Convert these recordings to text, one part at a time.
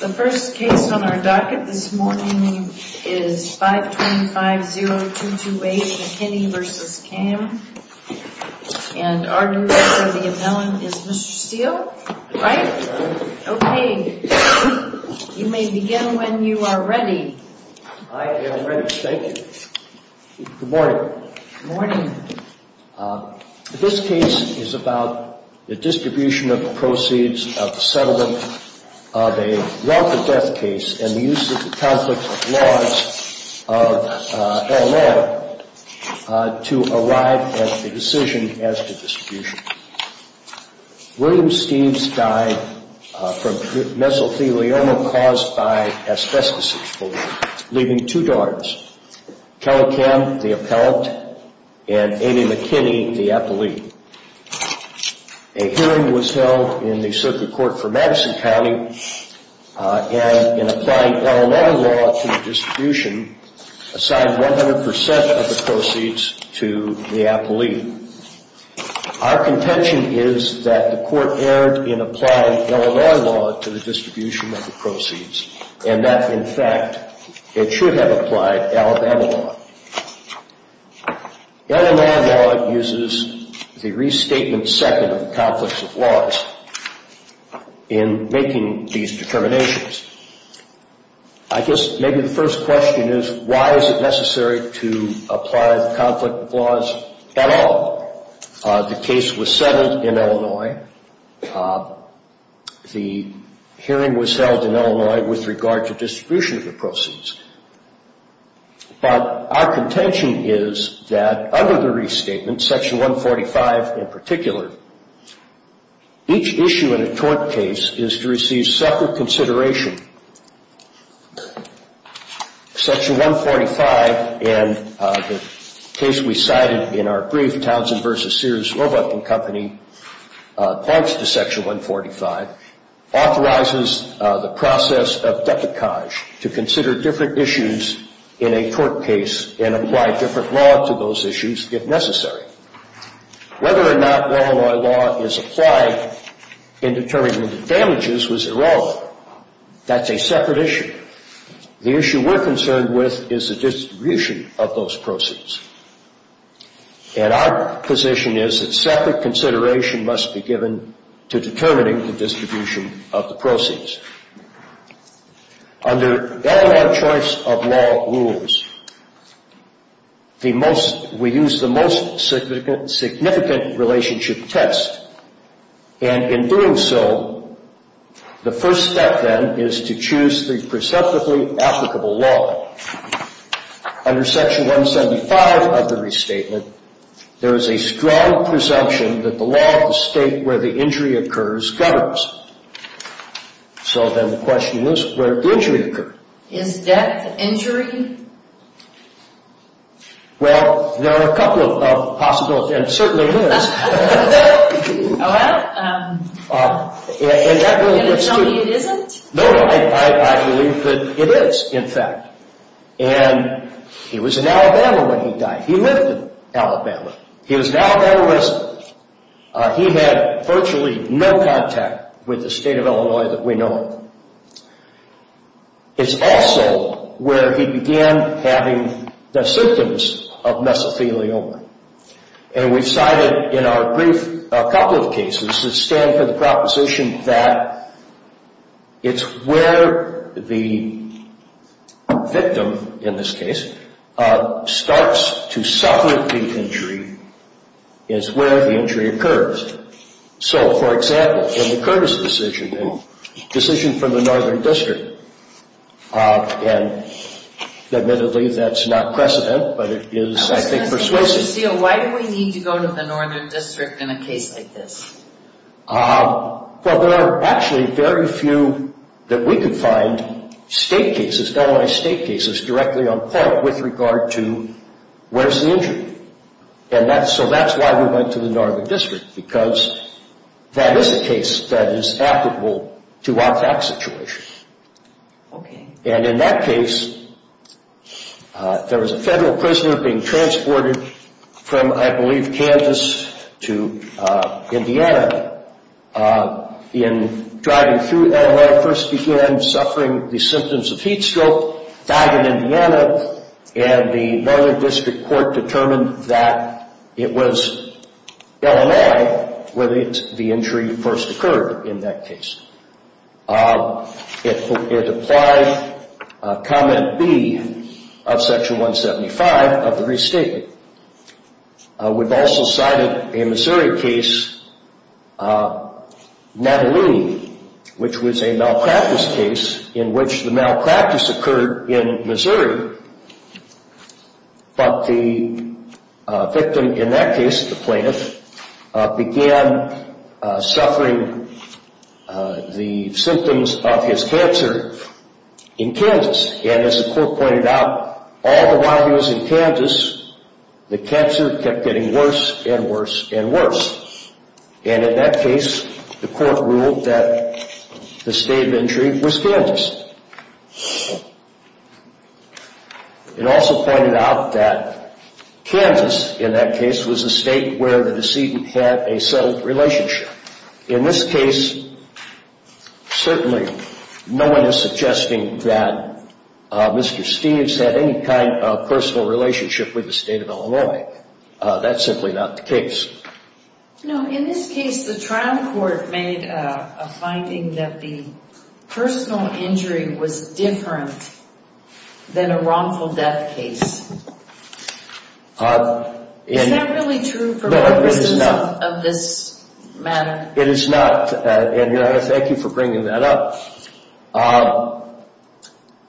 The first case on our docket this morning is 525.0228 McKinney v. Kamm, and our new deputy appellant is Mr. Steele, right? Right. Okay. You may begin when you are ready. I am ready. Thank you. Good morning. Good morning. This case is about the distribution of proceeds of the settlement of a welfare death case and the use of the conflict of laws of L.A. to arrive at a decision as to distribution. William Steele died from mesothelioma caused by asbestosis, leaving two daughters, Kelly Kamm, the appellant, and Amy McKinney, the appellee. A hearing was held in the Circuit Court for Madison County, and in applying L.A. law to the distribution, assigned 100% of the proceeds to the appellee. Our contention is that the court erred in applying L.A. law to the distribution of the proceeds, and that, in fact, it should have applied Alabama law. L.A. law uses the restatement second of the conflict of laws in making these determinations. I guess maybe the first question is, why is it necessary to apply the conflict of laws at all? The case was settled in Illinois. The hearing was held in Illinois with regard to distribution of the proceeds. But our contention is that under the restatement, Section 145 in particular, each issue in a tort case is to receive separate consideration. Section 145 in the case we cited in our brief, Townsend v. Sears, Roebuck & Company, points to Section 145, authorizes the process of deprecage to consider different issues in a tort case and apply different law to those issues if necessary. Whether or not Illinois law is applied in determining the damages was irrelevant. That's a separate issue. The issue we're concerned with is the distribution of those proceeds. And our position is that separate consideration must be given to determining the distribution of the proceeds. Under Illinois choice of law rules, we use the most significant relationship test. And in doing so, the first step then is to choose the preceptively applicable law. Under Section 175 of the restatement, there is a strong presumption that the law of the state where the injury occurs governs. So then the question is, where did the injury occur? Is death an injury? Well, there are a couple of possibilities, and it certainly is. Are you going to tell me it isn't? No, I believe that it is, in fact. And he was in Alabama when he died. He lived in Alabama. He was an Alabama resident. He had virtually no contact with the state of Illinois that we know of. It's also where he began having the symptoms of mesothelioma. And we've cited in our brief a couple of cases that stand for the proposition that it's where the victim, in this case, starts to suffer the injury. It's where the injury occurs. So, for example, in the Curtis decision, a decision from the Northern District, and admittedly, that's not precedent, but it is, I think, persuasive. Why do we need to go to the Northern District in a case like this? Well, there are actually very few that we can find state cases, Illinois state cases, directly on par with regard to where's the injury? And so that's why we went to the Northern District, because that is a case that is applicable to our fact situation. And in that case, there was a federal prisoner being transported from, I believe, Kansas to Indiana. In driving through Illinois, first began suffering the symptoms of heat stroke, died in Indiana, and the Northern District court determined that it was Illinois where the injury first occurred in that case. It applied Comment B of Section 175 of the Restatement. We've also cited a Missouri case, Natalie, which was a malpractice case in which the malpractice occurred in Missouri. But the victim in that case, the plaintiff, began suffering the symptoms of his cancer in Kansas. And as the court pointed out, all the while he was in Kansas, the cancer kept getting worse and worse and worse. And in that case, the court ruled that the state of injury was Kansas. It also pointed out that Kansas, in that case, was the state where the decedent had a settled relationship. In this case, certainly no one is suggesting that Mr. Steeves had any kind of personal relationship with the state of Illinois. That's simply not the case. In this case, the trial court made a finding that the personal injury was different than a wrongful death case. Is that really true for both persons of this matter? It is not, and I thank you for bringing that up.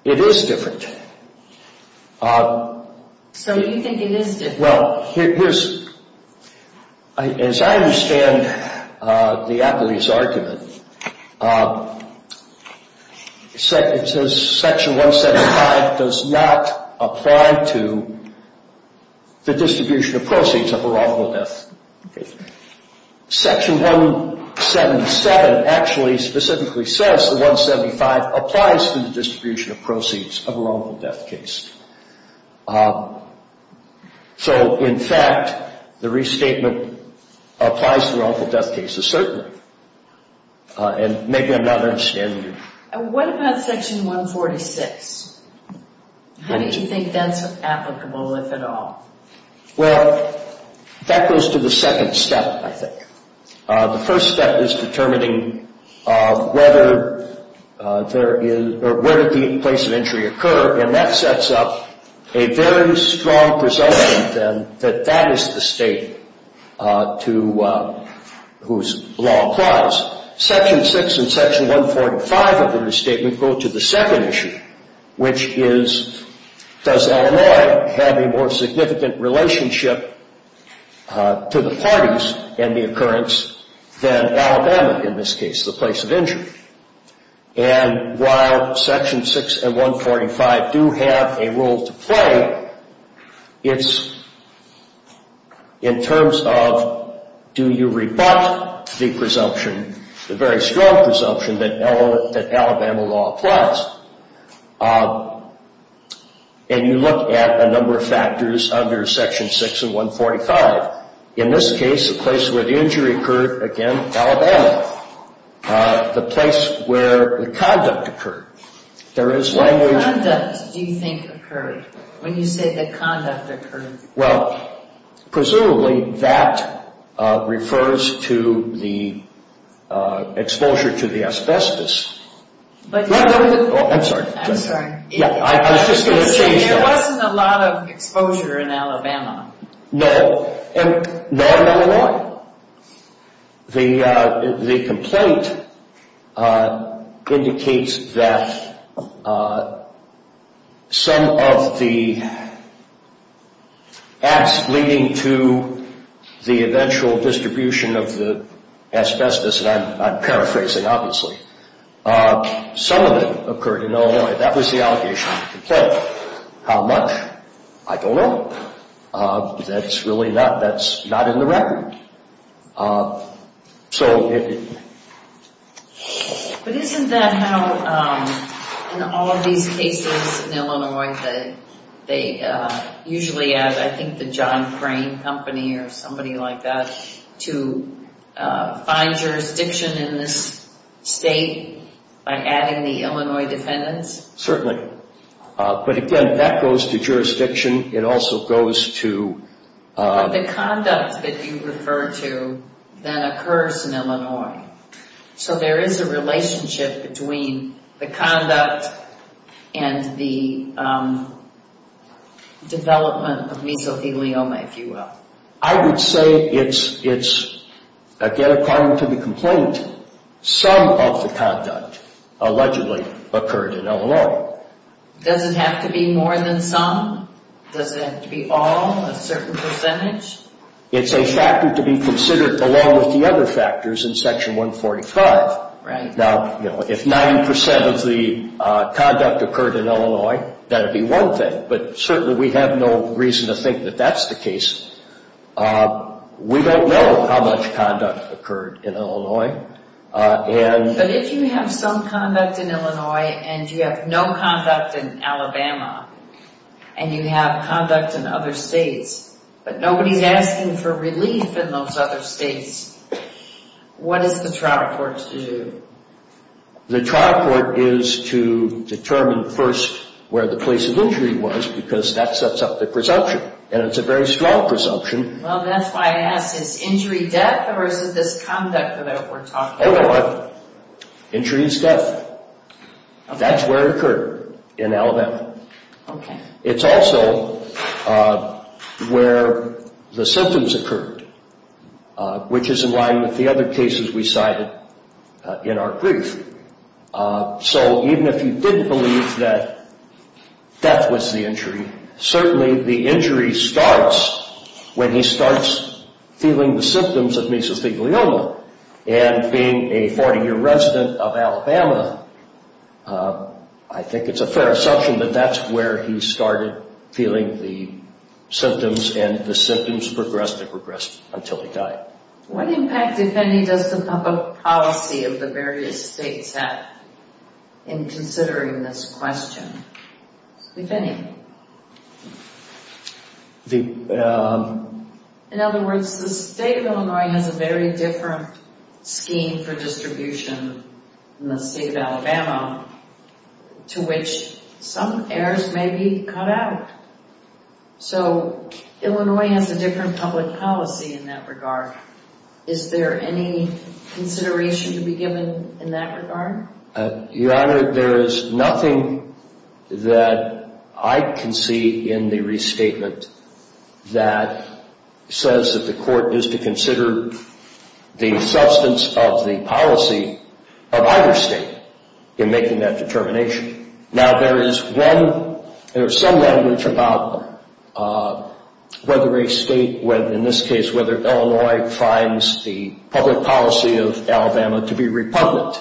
It is different. So you think it is different? Well, as I understand the appellee's argument, it says Section 175 does not apply to the distribution of proceeds of a wrongful death case. Section 177 actually specifically says that 175 applies to the distribution of proceeds of a wrongful death case. So, in fact, the restatement applies to wrongful death cases, certainly. And maybe I'm not understanding you. What about Section 146? How do you think that's applicable, if at all? Well, that goes to the second step, I think. The first step is determining whether the place of injury occurred, and that sets up a very strong presumption that that is the state whose law applies. Section 6 and Section 145 of the restatement go to the second issue, which is, does Illinois have a more significant relationship to the parties and the occurrence than Alabama, in this case, the place of injury? And while Section 6 and 145 do have a role to play, it's in terms of, do you rebut the presumption, the very strong presumption that Alabama law applies? And you look at a number of factors under Section 6 and 145. In this case, the place where the injury occurred, again, Alabama. The place where the conduct occurred. What conduct do you think occurred? When you say the conduct occurred. Well, presumably, that refers to the exposure to the asbestos. I'm sorry. I'm sorry. I was just going to change that. There wasn't a lot of exposure in Alabama. No. And not in Illinois. The complaint indicates that some of the acts leading to the eventual distribution of the asbestos, and I'm paraphrasing, obviously. Some of it occurred in Illinois. That was the allegation of the complaint. How much? I don't know. That's really not in the record. But isn't that how in all of these cases in Illinois that they usually add, I think, the John Crane Company or somebody like that to find jurisdiction in this state by adding the Illinois defendants? Certainly. But again, that goes to jurisdiction. It also goes to... But the conduct that you refer to then occurs in Illinois. So there is a relationship between the conduct and the development of mesothelioma, if you will. I would say it's, again, according to the complaint, some of the conduct allegedly occurred in Illinois. Does it have to be more than some? Does it have to be all, a certain percentage? It's a factor to be considered along with the other factors in Section 145. Right. Now, if 90% of the conduct occurred in Illinois, that would be one thing. But certainly we have no reason to think that that's the case. We don't know how much conduct occurred in Illinois. But if you have some conduct in Illinois and you have no conduct in Alabama and you have conduct in other states, but nobody's asking for relief in those other states, what is the trial court to do? The trial court is to determine first where the place of injury was because that sets up the presumption. And it's a very strong presumption. Well, that's why I asked. Is injury death or is it this conduct that we're talking about? Injury is death. That's where it occurred in Alabama. Okay. It's also where the symptoms occurred, which is in line with the other cases we cited in our brief. So even if you didn't believe that death was the injury, certainly the injury starts when he starts feeling the symptoms of mesothelioma. And being a 40-year resident of Alabama, I think it's a fair assumption that that's where he started feeling the symptoms and the symptoms progressed and progressed until he died. What impact, if any, does the public policy of the various states have in considering this question, if any? In other words, the state of Illinois has a very different scheme for distribution than the state of Alabama, to which some errors may be cut out. So Illinois has a different public policy in that regard. Is there any consideration to be given in that regard? Your Honor, there is nothing that I can see in the restatement that says that the court is to consider the substance of the policy of either state in making that determination. Now, there is some language about whether a state, in this case whether Illinois, finds the public policy of Alabama to be repugnant.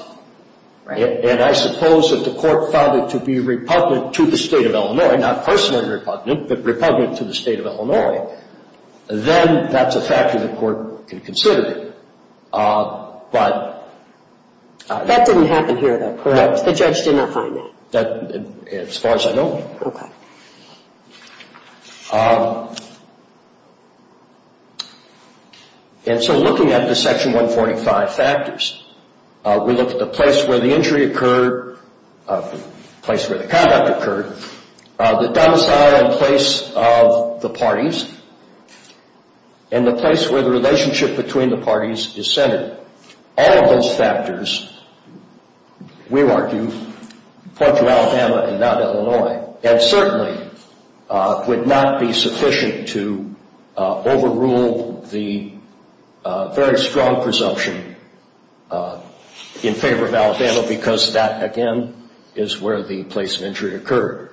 And I suppose if the court found it to be repugnant to the state of Illinois, not personally repugnant, but repugnant to the state of Illinois, then that's a factor the court can consider. That didn't happen here, though, correct? The judge did not find that? As far as I know. Okay. And so looking at the Section 145 factors, we look at the place where the injury occurred, the place where the conduct occurred, the domicile and place of the parties, and the place where the relationship between the parties is centered. All of those factors, we argue, point to Alabama and not Illinois. And certainly would not be sufficient to overrule the very strong presumption in favor of Alabama because that, again, is where the place of injury occurred.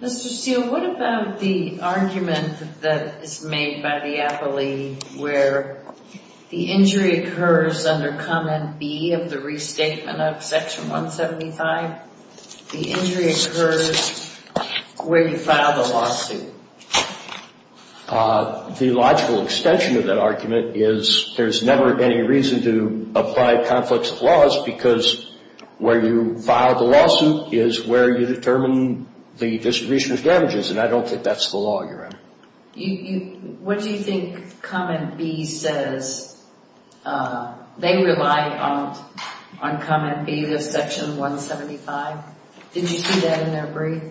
Mr. Steele, what about the argument that is made by the appellee where the injury occurs under Comment B of the restatement of Section 175? The injury occurs where you file the lawsuit. The logical extension of that argument is there's never any reason to apply conflicts of laws because where you file the lawsuit is where you determine the distribution of damages, and I don't think that's the law you're in. What do you think Comment B says? They rely on Comment B of Section 175. Did you see that in their brief?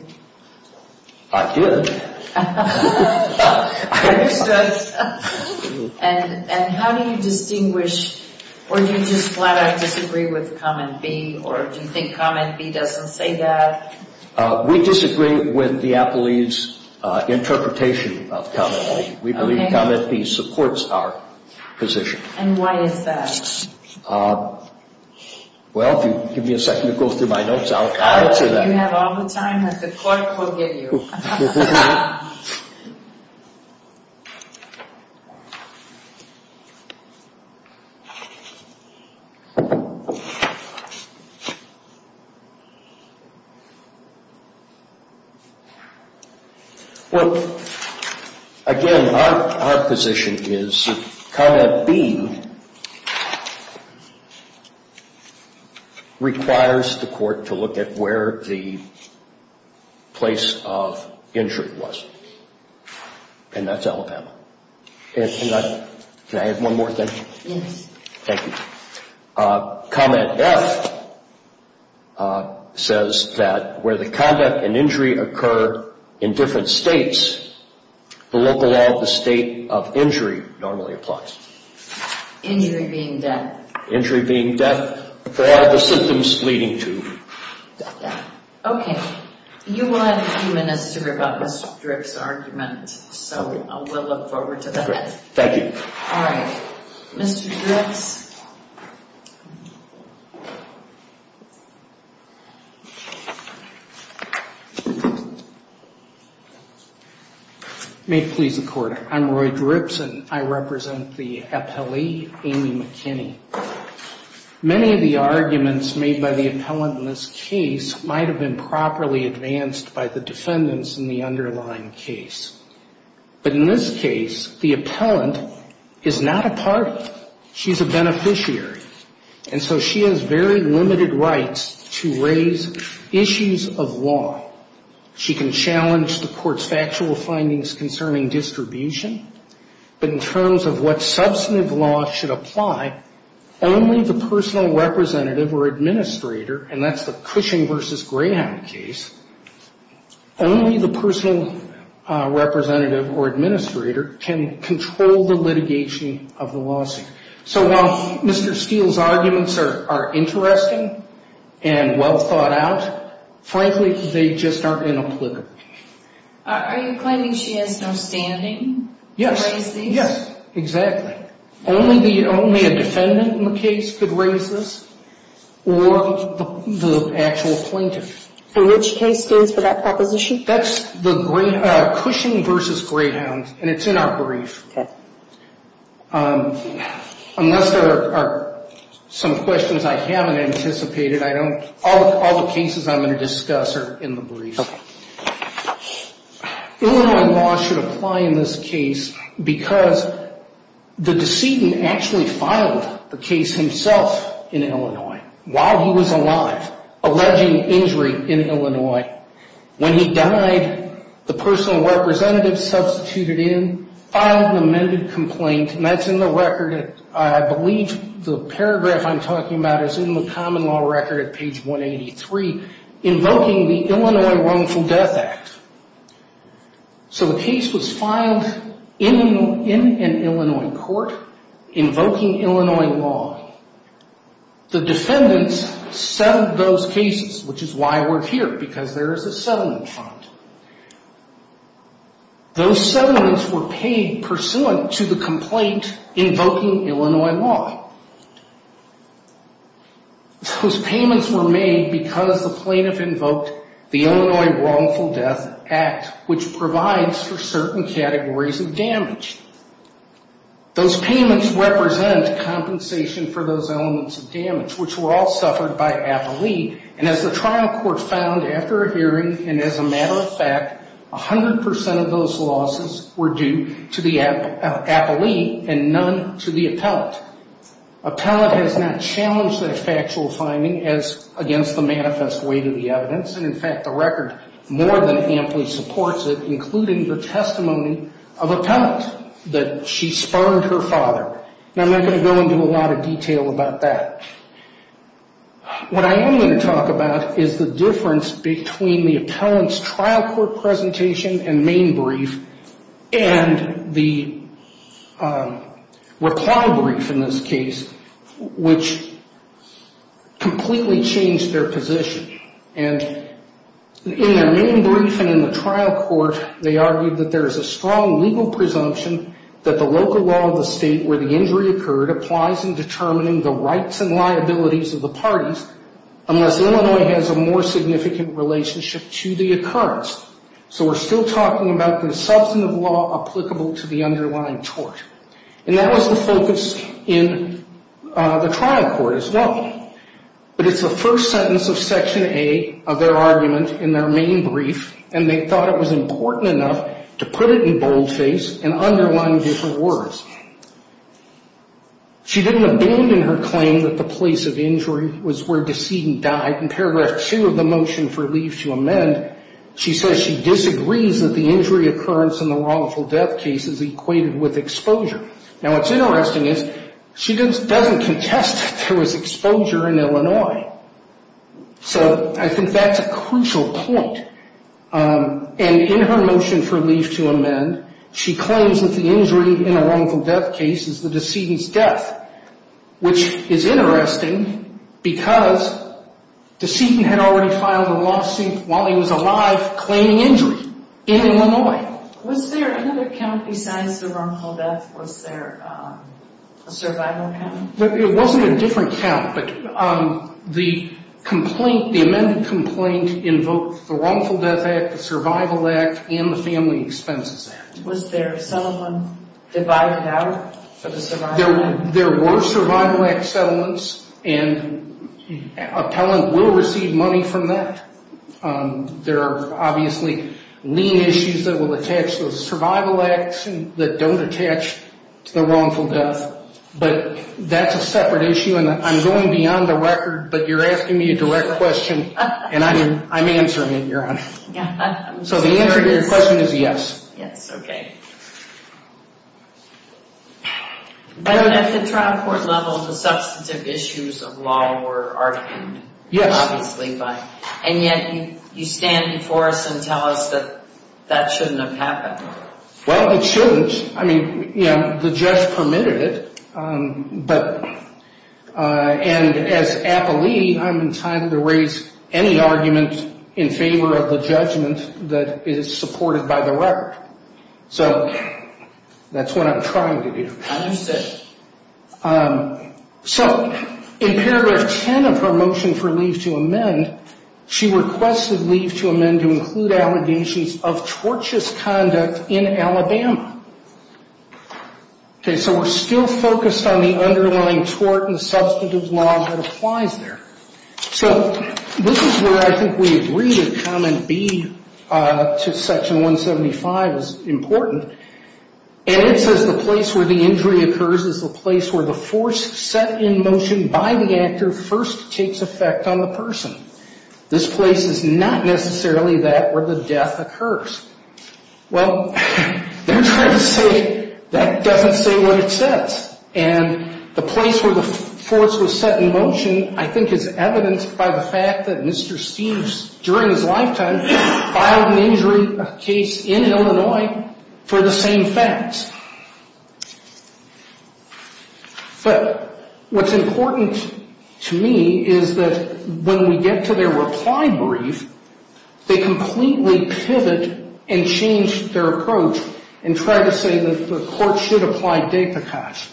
I did. I understood. And how do you distinguish, or do you just flat out disagree with Comment B, or do you think Comment B doesn't say that? We disagree with the appellee's interpretation of Comment B. We believe Comment B supports our position. And why is that? Well, if you give me a second to go through my notes, I'll answer that. You have all the time that the court will give you. Well, again, our position is that Comment B requires the court to look at where the place of injury is. And that's Alabama. Can I add one more thing? Yes. Thank you. Comment F says that where the conduct and injury occur in different states, the local law of the state of injury normally applies. Injury being death. Injury being death, or the symptoms leading to death. Okay. You will have a few minutes to write about Mr. Dripps' argument. So we'll look forward to that. Thank you. All right. Mr. Dripps? May it please the Court. I'm Roy Dripps, and I represent the appellee, Amy McKinney. Many of the arguments made by the appellant in this case might have been properly advanced by the defendants in the underlying case. But in this case, the appellant is not a party. She's a beneficiary. And so she has very limited rights to raise issues of law. She can challenge the Court's factual findings concerning distribution. But in terms of what substantive law should apply, only the personal representative or administrator, and that's the Cushing v. Greyhound case, only the personal representative or administrator can control the litigation of the lawsuit. So while Mr. Steele's arguments are interesting and well thought out, frankly, they just aren't inapplicable. Are you claiming she has no standing to raise these? Yes. Yes, exactly. Only a defendant in the case could raise this, or the actual plaintiff. And which case stands for that proposition? That's the Cushing v. Greyhound, and it's in our brief. Okay. Unless there are some questions I haven't anticipated, all the cases I'm going to discuss are in the brief. Illinois law should apply in this case because the decedent actually filed the case himself in Illinois while he was alive, alleging injury in Illinois. When he died, the personal representative substituted in, filed an amended complaint, and that's in the record. I believe the paragraph I'm talking about is in the common law record at page 183, invoking the Illinois Wrongful Death Act. So the case was filed in an Illinois court, invoking Illinois law. The defendants settled those cases, which is why we're here, because there is a settlement fund. Those settlements were paid pursuant to the complaint invoking Illinois law. Those payments were made because the plaintiff invoked the Illinois Wrongful Death Act, which provides for certain categories of damage. Those payments represent compensation for those elements of damage, which were all suffered by appellee. And as the trial court found after a hearing, and as a matter of fact, 100 percent of those losses were due to the appellee and none to the appellant. Appellant has not challenged that factual finding as against the manifest weight of the evidence. And in fact, the record more than amply supports it, including the testimony of appellant that she spurned her father. And I'm not going to go into a lot of detail about that. What I am going to talk about is the difference between the appellant's trial court presentation and main brief, and the recall brief in this case, which completely changed their position. And in their main brief and in the trial court, they argued that there is a strong legal presumption that the local law of the state where the injury occurred applies in determining the rights and liabilities of the parties, unless Illinois has a more significant relationship to the occurrence. So we're still talking about the substantive law applicable to the underlying tort. And that was the focus in the trial court as well. But it's the first sentence of section A of their argument in their main brief, and they thought it was important enough to put it in boldface and underline different words. She didn't abandon her claim that the place of injury was where Decedent died. In paragraph 2 of the motion for leave to amend, she says she disagrees that the injury occurrence in the wrongful death case is equated with exposure. Now, what's interesting is she doesn't contest that there was exposure in Illinois. So I think that's a crucial point. And in her motion for leave to amend, she claims that the injury in a wrongful death case is the Decedent's death, which is interesting because Decedent had already filed a lawsuit while he was alive claiming injury in Illinois. Was there another count besides the wrongful death? Was there a survival count? It wasn't a different count, but the complaint, the amended complaint invoked the Wrongful Death Act, the Survival Act, and the Family Expenses Act. Was there settlement divided out for the Survival Act? There were Survival Act settlements, and an appellant will receive money from that. There are obviously lien issues that will attach to the Survival Act that don't attach to the wrongful death. But that's a separate issue, and I'm going beyond the record, but you're asking me a direct question, and I'm answering it, Your Honor. So the answer to your question is yes. Yes, okay. But at the trial court level, the substantive issues of law were argued, obviously, and yet you stand before us and tell us that that shouldn't have happened. Well, it shouldn't. I mean, you know, the judge permitted it, and as appellee, I'm entitled to raise any argument in favor of the judgment that is supported by the record. So that's what I'm trying to do. So in paragraph 10 of her motion for leave to amend, she requested leave to amend to include allegations of tortious conduct in Alabama. Okay, so we're still focused on the underlying tort and the substantive law that applies there. So this is where I think we agree that comment B to section 175 is important, and it says the place where the injury occurs is the place where the force set in motion by the actor first takes effect on the person. This place is not necessarily that where the death occurs. Well, they're trying to say that doesn't say what it says, and the place where the force was set in motion, I think, is evidenced by the fact that Mr. Steeves, during his lifetime, filed an injury case in Illinois for the same facts. But what's important to me is that when we get to their reply brief, they completely pivot and change their approach and try to say that the court should apply de pecage,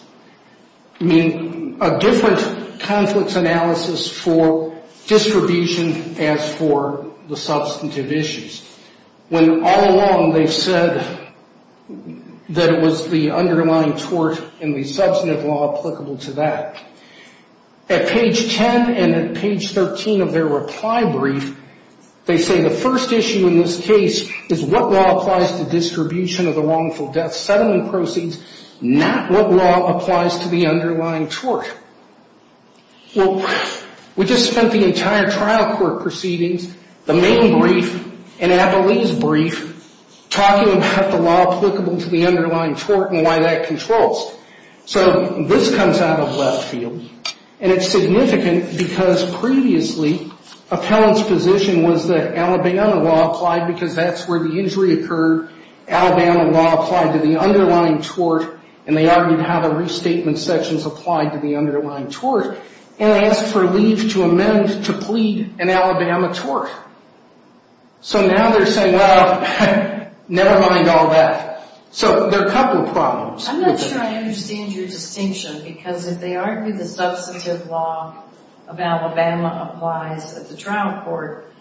meaning a different conflict analysis for distribution as for the substantive issues, when all along they've said that it was the underlying tort and the substantive law applicable to that. At page 10 and at page 13 of their reply brief, they say the first issue in this case is what law applies to distribution of the wrongful death settlement proceeds, not what law applies to the underlying tort. Well, we just spent the entire trial court proceedings, the main brief, and Abilene's brief talking about the law applicable to the underlying tort and why that controls. So this comes out of left field, and it's significant because previously Appellant's position was that Alabama law applied because that's where the injury occurred. Alabama law applied to the underlying tort, and they argued how the restatement sections applied to the underlying tort and asked for leave to amend to plead an Alabama tort. So now they're saying, well, never mind all that. So there are a couple of problems. I'm not sure I understand your distinction, because if they argue the substantive law of Alabama applies at the trial court,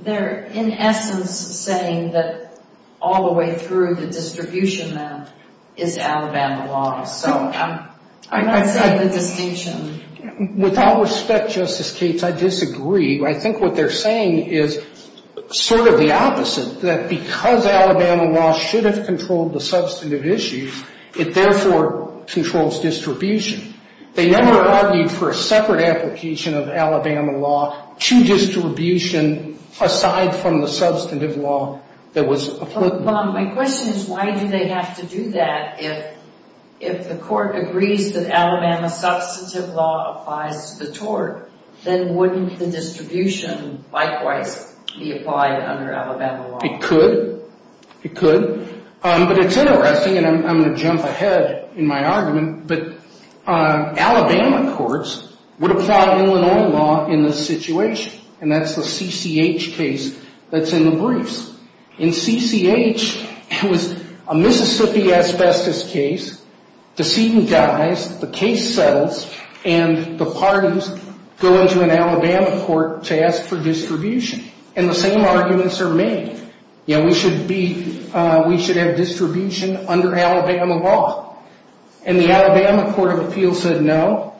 they're in essence saying that all the way through the distribution then is Alabama law. So I'm not seeing the distinction. With all respect, Justice Cates, I disagree. I think what they're saying is sort of the opposite, that because Alabama law should have controlled the substantive issues, it therefore controls distribution. They never argued for a separate application of Alabama law to distribution aside from the substantive law that was applicable. But, Bob, my question is why do they have to do that if the court agrees that Alabama substantive law applies to the tort, then wouldn't the distribution likewise be applied under Alabama law? It could. It could. But it's interesting, and I'm going to jump ahead in my argument, but Alabama courts would apply Illinois law in this situation, and that's the CCH case that's in the briefs. In CCH, it was a Mississippi asbestos case. Decedent dies, the case settles, and the parties go into an Alabama court to ask for distribution, and the same arguments are made. We should have distribution under Alabama law. And the Alabama Court of Appeals said no.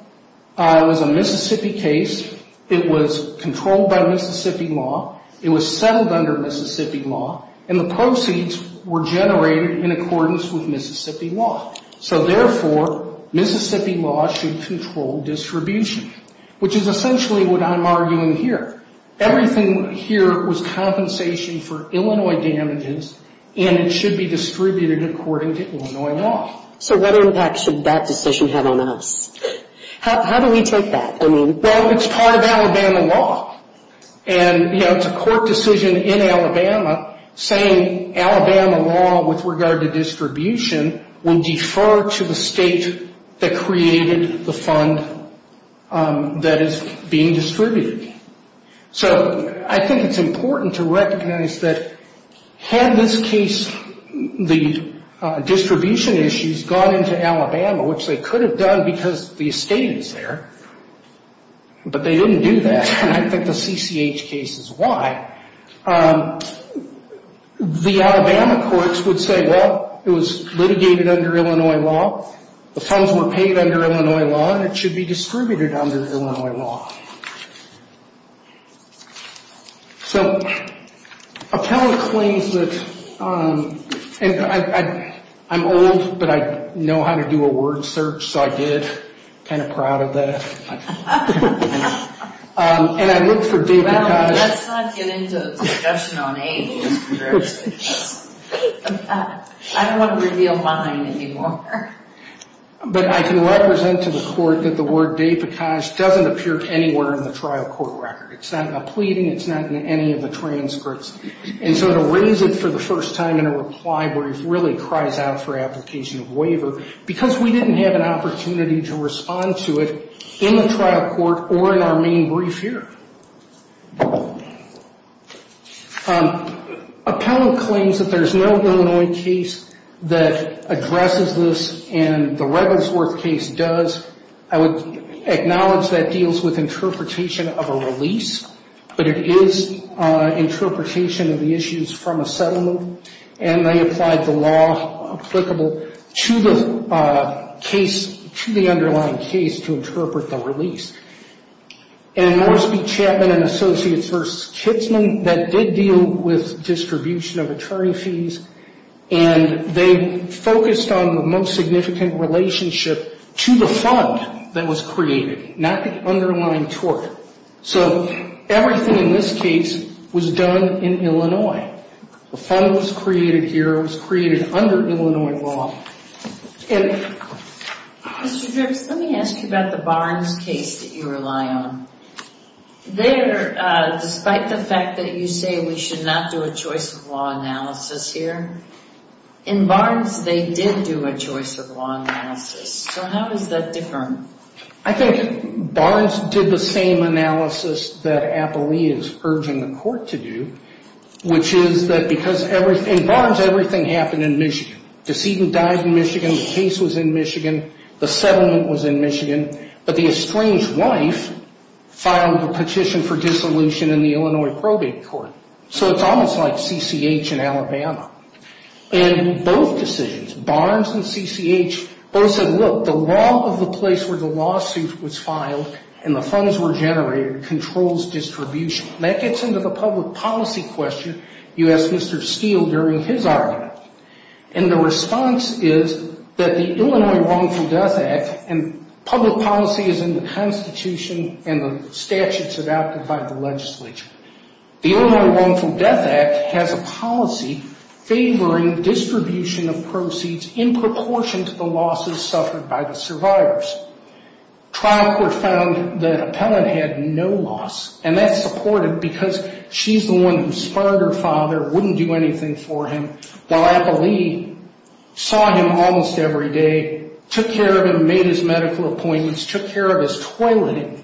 It was a Mississippi case. It was controlled by Mississippi law. It was settled under Mississippi law, and the proceeds were generated in accordance with Mississippi law. So, therefore, Mississippi law should control distribution, which is essentially what I'm arguing here. Everything here was compensation for Illinois damages, and it should be distributed according to Illinois law. So what impact should that decision have on us? How do we take that? Well, it's part of Alabama law, and, you know, it's a court decision in Alabama, saying Alabama law with regard to distribution would defer to the state that created the fund that is being distributed. So I think it's important to recognize that had this case, the distribution issues gone into Alabama, which they could have done because the estate is there, but they didn't do that, and I think the CCH case is why, the Alabama courts would say, well, it was litigated under Illinois law. The funds were paid under Illinois law, and it should be distributed under Illinois law. So appellate claims that I'm old, but I know how to do a word search, so I did. I'm kind of proud of that. Well, let's not get into discussion on age. I don't want to reveal mine anymore. But I can represent to the court that the word doesn't appear anywhere in the trial court record. It's not in a pleading. It's not in any of the transcripts. And so to raise it for the first time in a reply where it really cries out for application of waiver, because we didn't have an opportunity to respond to it in the trial court or in our main brief here. Appellant claims that there's no Illinois case that addresses this, and the Revelsworth case does. I would acknowledge that deals with interpretation of a release, but it is interpretation of the issues from a settlement, and they applied the law applicable to the underlying case to interpret the release. And Moresby, Chapman, and Associates v. Kitzman, that did deal with distribution of attorney fees, and they focused on the most significant relationship to the fund that was created, not the underlying tort. So everything in this case was done in Illinois. The fund was created here. It was created under Illinois law. Mr. Dripps, let me ask you about the Barnes case that you rely on. There, despite the fact that you say we should not do a choice of law analysis here, in Barnes they did do a choice of law analysis. So how is that different? I think Barnes did the same analysis that Appellee is urging the court to do, which is that because in Barnes everything happened in Michigan. Decedent died in Michigan. The case was in Michigan. The settlement was in Michigan. But the estranged wife filed a petition for dissolution in the Illinois probate court. So it's almost like CCH in Alabama. In both decisions, Barnes and CCH both said, look, the law of the place where the lawsuit was filed and the funds were generated controls distribution. That gets into the public policy question you asked Mr. Steele during his argument. And the response is that the Illinois Wrongful Death Act, and public policy is in the Constitution and the statutes adopted by the legislature. The Illinois Wrongful Death Act has a policy favoring distribution of proceeds in proportion to the losses suffered by the survivors. Trial court found that Appellee had no loss, and that's supported because she's the one who spurned her father, wouldn't do anything for him, while Appellee saw him almost every day, took care of him, made his medical appointments, took care of his toileting.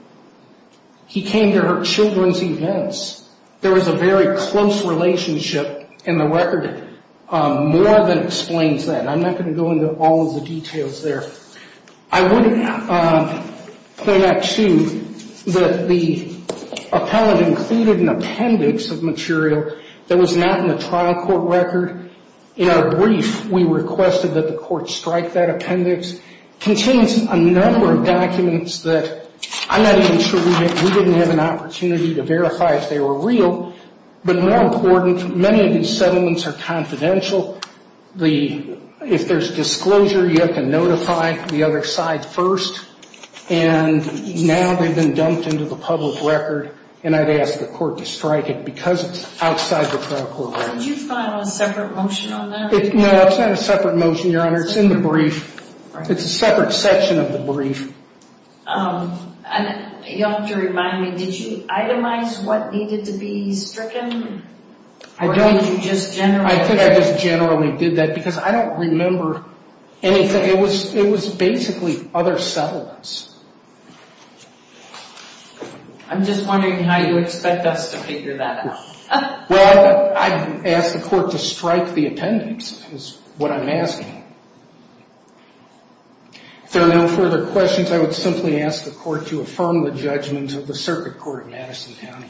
He came to her children's events. There was a very close relationship, and the record more than explains that. I'm not going to go into all of the details there. I would point out, too, that the appellate included an appendix of material that was not in the trial court record. In our brief, we requested that the court strike that appendix. It contains a number of documents that I'm not even sure we didn't have an opportunity to verify if they were real. But more important, many of these settlements are confidential. If there's disclosure, you have to notify the other side first. And now they've been dumped into the public record, and I'd ask the court to strike it because it's outside the trial court record. Did you file a separate motion on that? No, it's not a separate motion, Your Honor. It's in the brief. It's a separate section of the brief. You'll have to remind me, did you itemize what needed to be stricken, or did you just generalize? I think I just generally did that because I don't remember anything. It was basically other settlements. I'm just wondering how you expect us to figure that out. Well, I'd ask the court to strike the appendix is what I'm asking. If there are no further questions, I would simply ask the court to affirm the judgment of the Circuit Court of Madison County.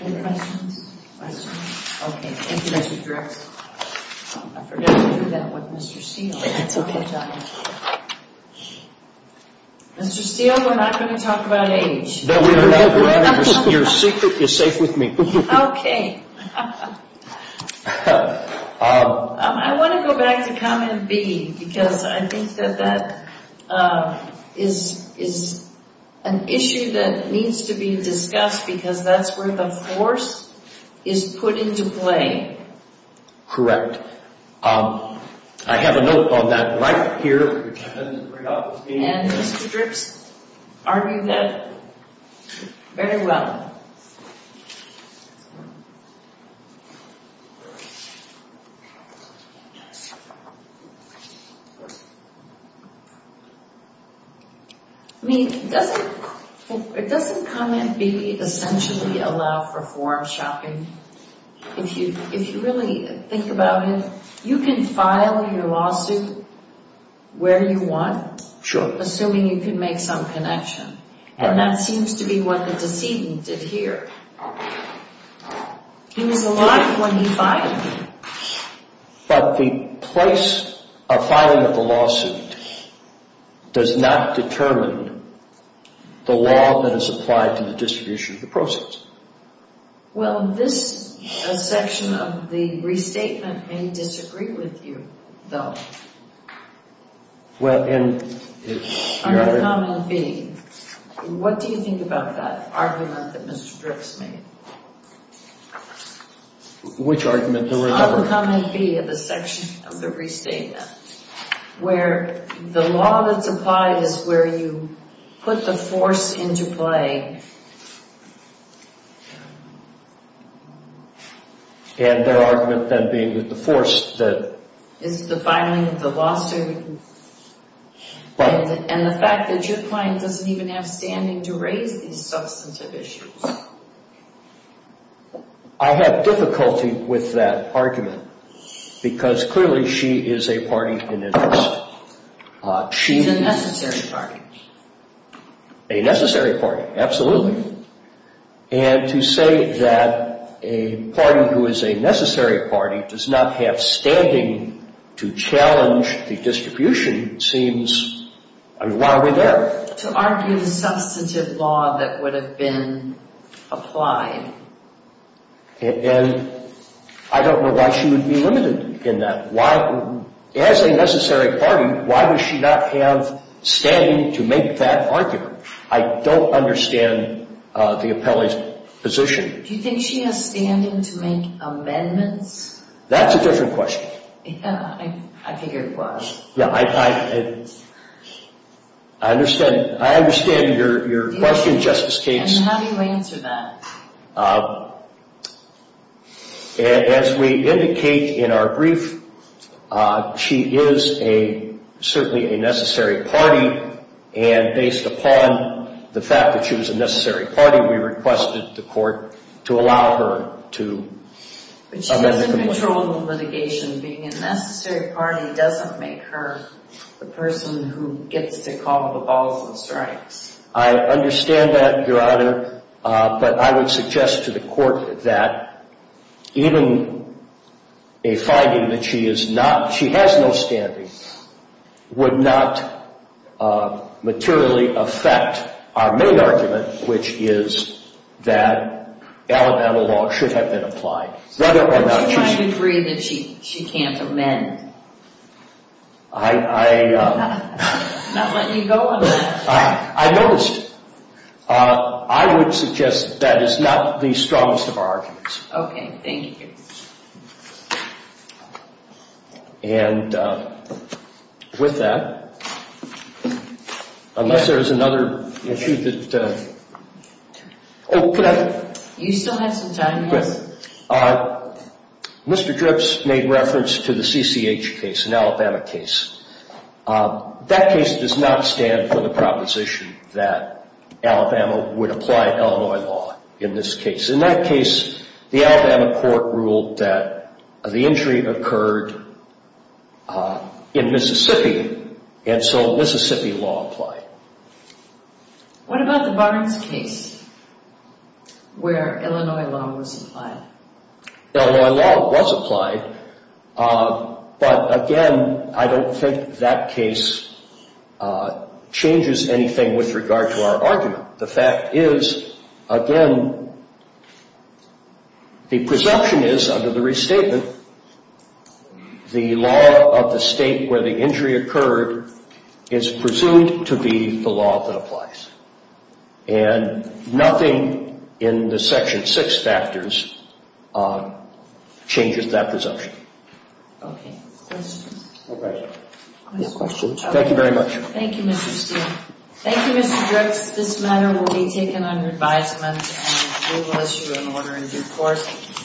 Any questions? Okay. Thank you, Mr. Drexel. I forgot to do that with Mr. Steele. That's okay. Mr. Steele, we're not going to talk about age. No, we're not. Your secret is safe with me. Okay. I want to go back to comment B because I think that that is an issue that needs to be discussed because that's where the force is put into play. Correct. I have a note on that right here. And Mr. Dripps argued that very well. I mean, doesn't comment B essentially allow for form shopping? If you really think about it, you can file your lawsuit where you want. Sure. Assuming you can make some connection. And that seems to be what the decedent did here. He was alive when he filed. But the place of filing of the lawsuit does not determine the law that is applied to the distribution of the proceeds. Well, this section of the restatement may disagree with you, though. Well, and if you're— On comment B, what do you think about that argument that Mr. Dripps made? Which argument? On comment B of the section of the restatement where the law that's applied is where you put the force into play. And their argument then being that the force that— Is the filing of the lawsuit. And the fact that your client doesn't even have standing to raise these substantive issues. I have difficulty with that argument because clearly she is a party in interest. She's a necessary party. A necessary party, absolutely. And to say that a party who is a necessary party does not have standing to challenge the distribution seems—I mean, why are we there? To argue the substantive law that would have been applied. And I don't know why she would be limited in that. Why—as a necessary party, why would she not have standing to make that argument? I don't understand the appellee's position. Do you think she has standing to make amendments? That's a different question. Yeah, I figure it was. Yeah, I understand your question, Justice Cates. And how do you answer that? As we indicate in our brief, she is certainly a necessary party. And based upon the fact that she was a necessary party, we requested the court to allow her to amend the complaint. But she doesn't control the litigation. Being a necessary party doesn't make her the person who gets to call the balls and strikes. I understand that, Your Honor. But I would suggest to the court that even a finding that she has no standing would not materially affect our main argument, which is that Alabama law should have been applied, whether or not she— How do you agree that she can't amend? I— Not letting you go on that. I noticed. I would suggest that is not the strongest of arguments. Okay. Thank you. And with that, unless there is another issue that— Oh, could I— You still have some time, yes? Mr. Dripps made reference to the CCH case, an Alabama case. That case does not stand for the proposition that Alabama would apply Illinois law in this case. In that case, the Alabama court ruled that the injury occurred in Mississippi, and so Mississippi law applied. What about the Barnes case where Illinois law was applied? Illinois law was applied, but again, I don't think that case changes anything with regard to our argument. The fact is, again, the presumption is, under the restatement, the law of the state where the injury occurred is presumed to be the law that applies. And nothing in the Section 6 factors changes that presumption. Okay. Questions? No questions. Thank you very much. Thank you, Mr. Steele. Thank you, Mr. Dripps. This matter will be taken under advisement, and we will issue an order in due course.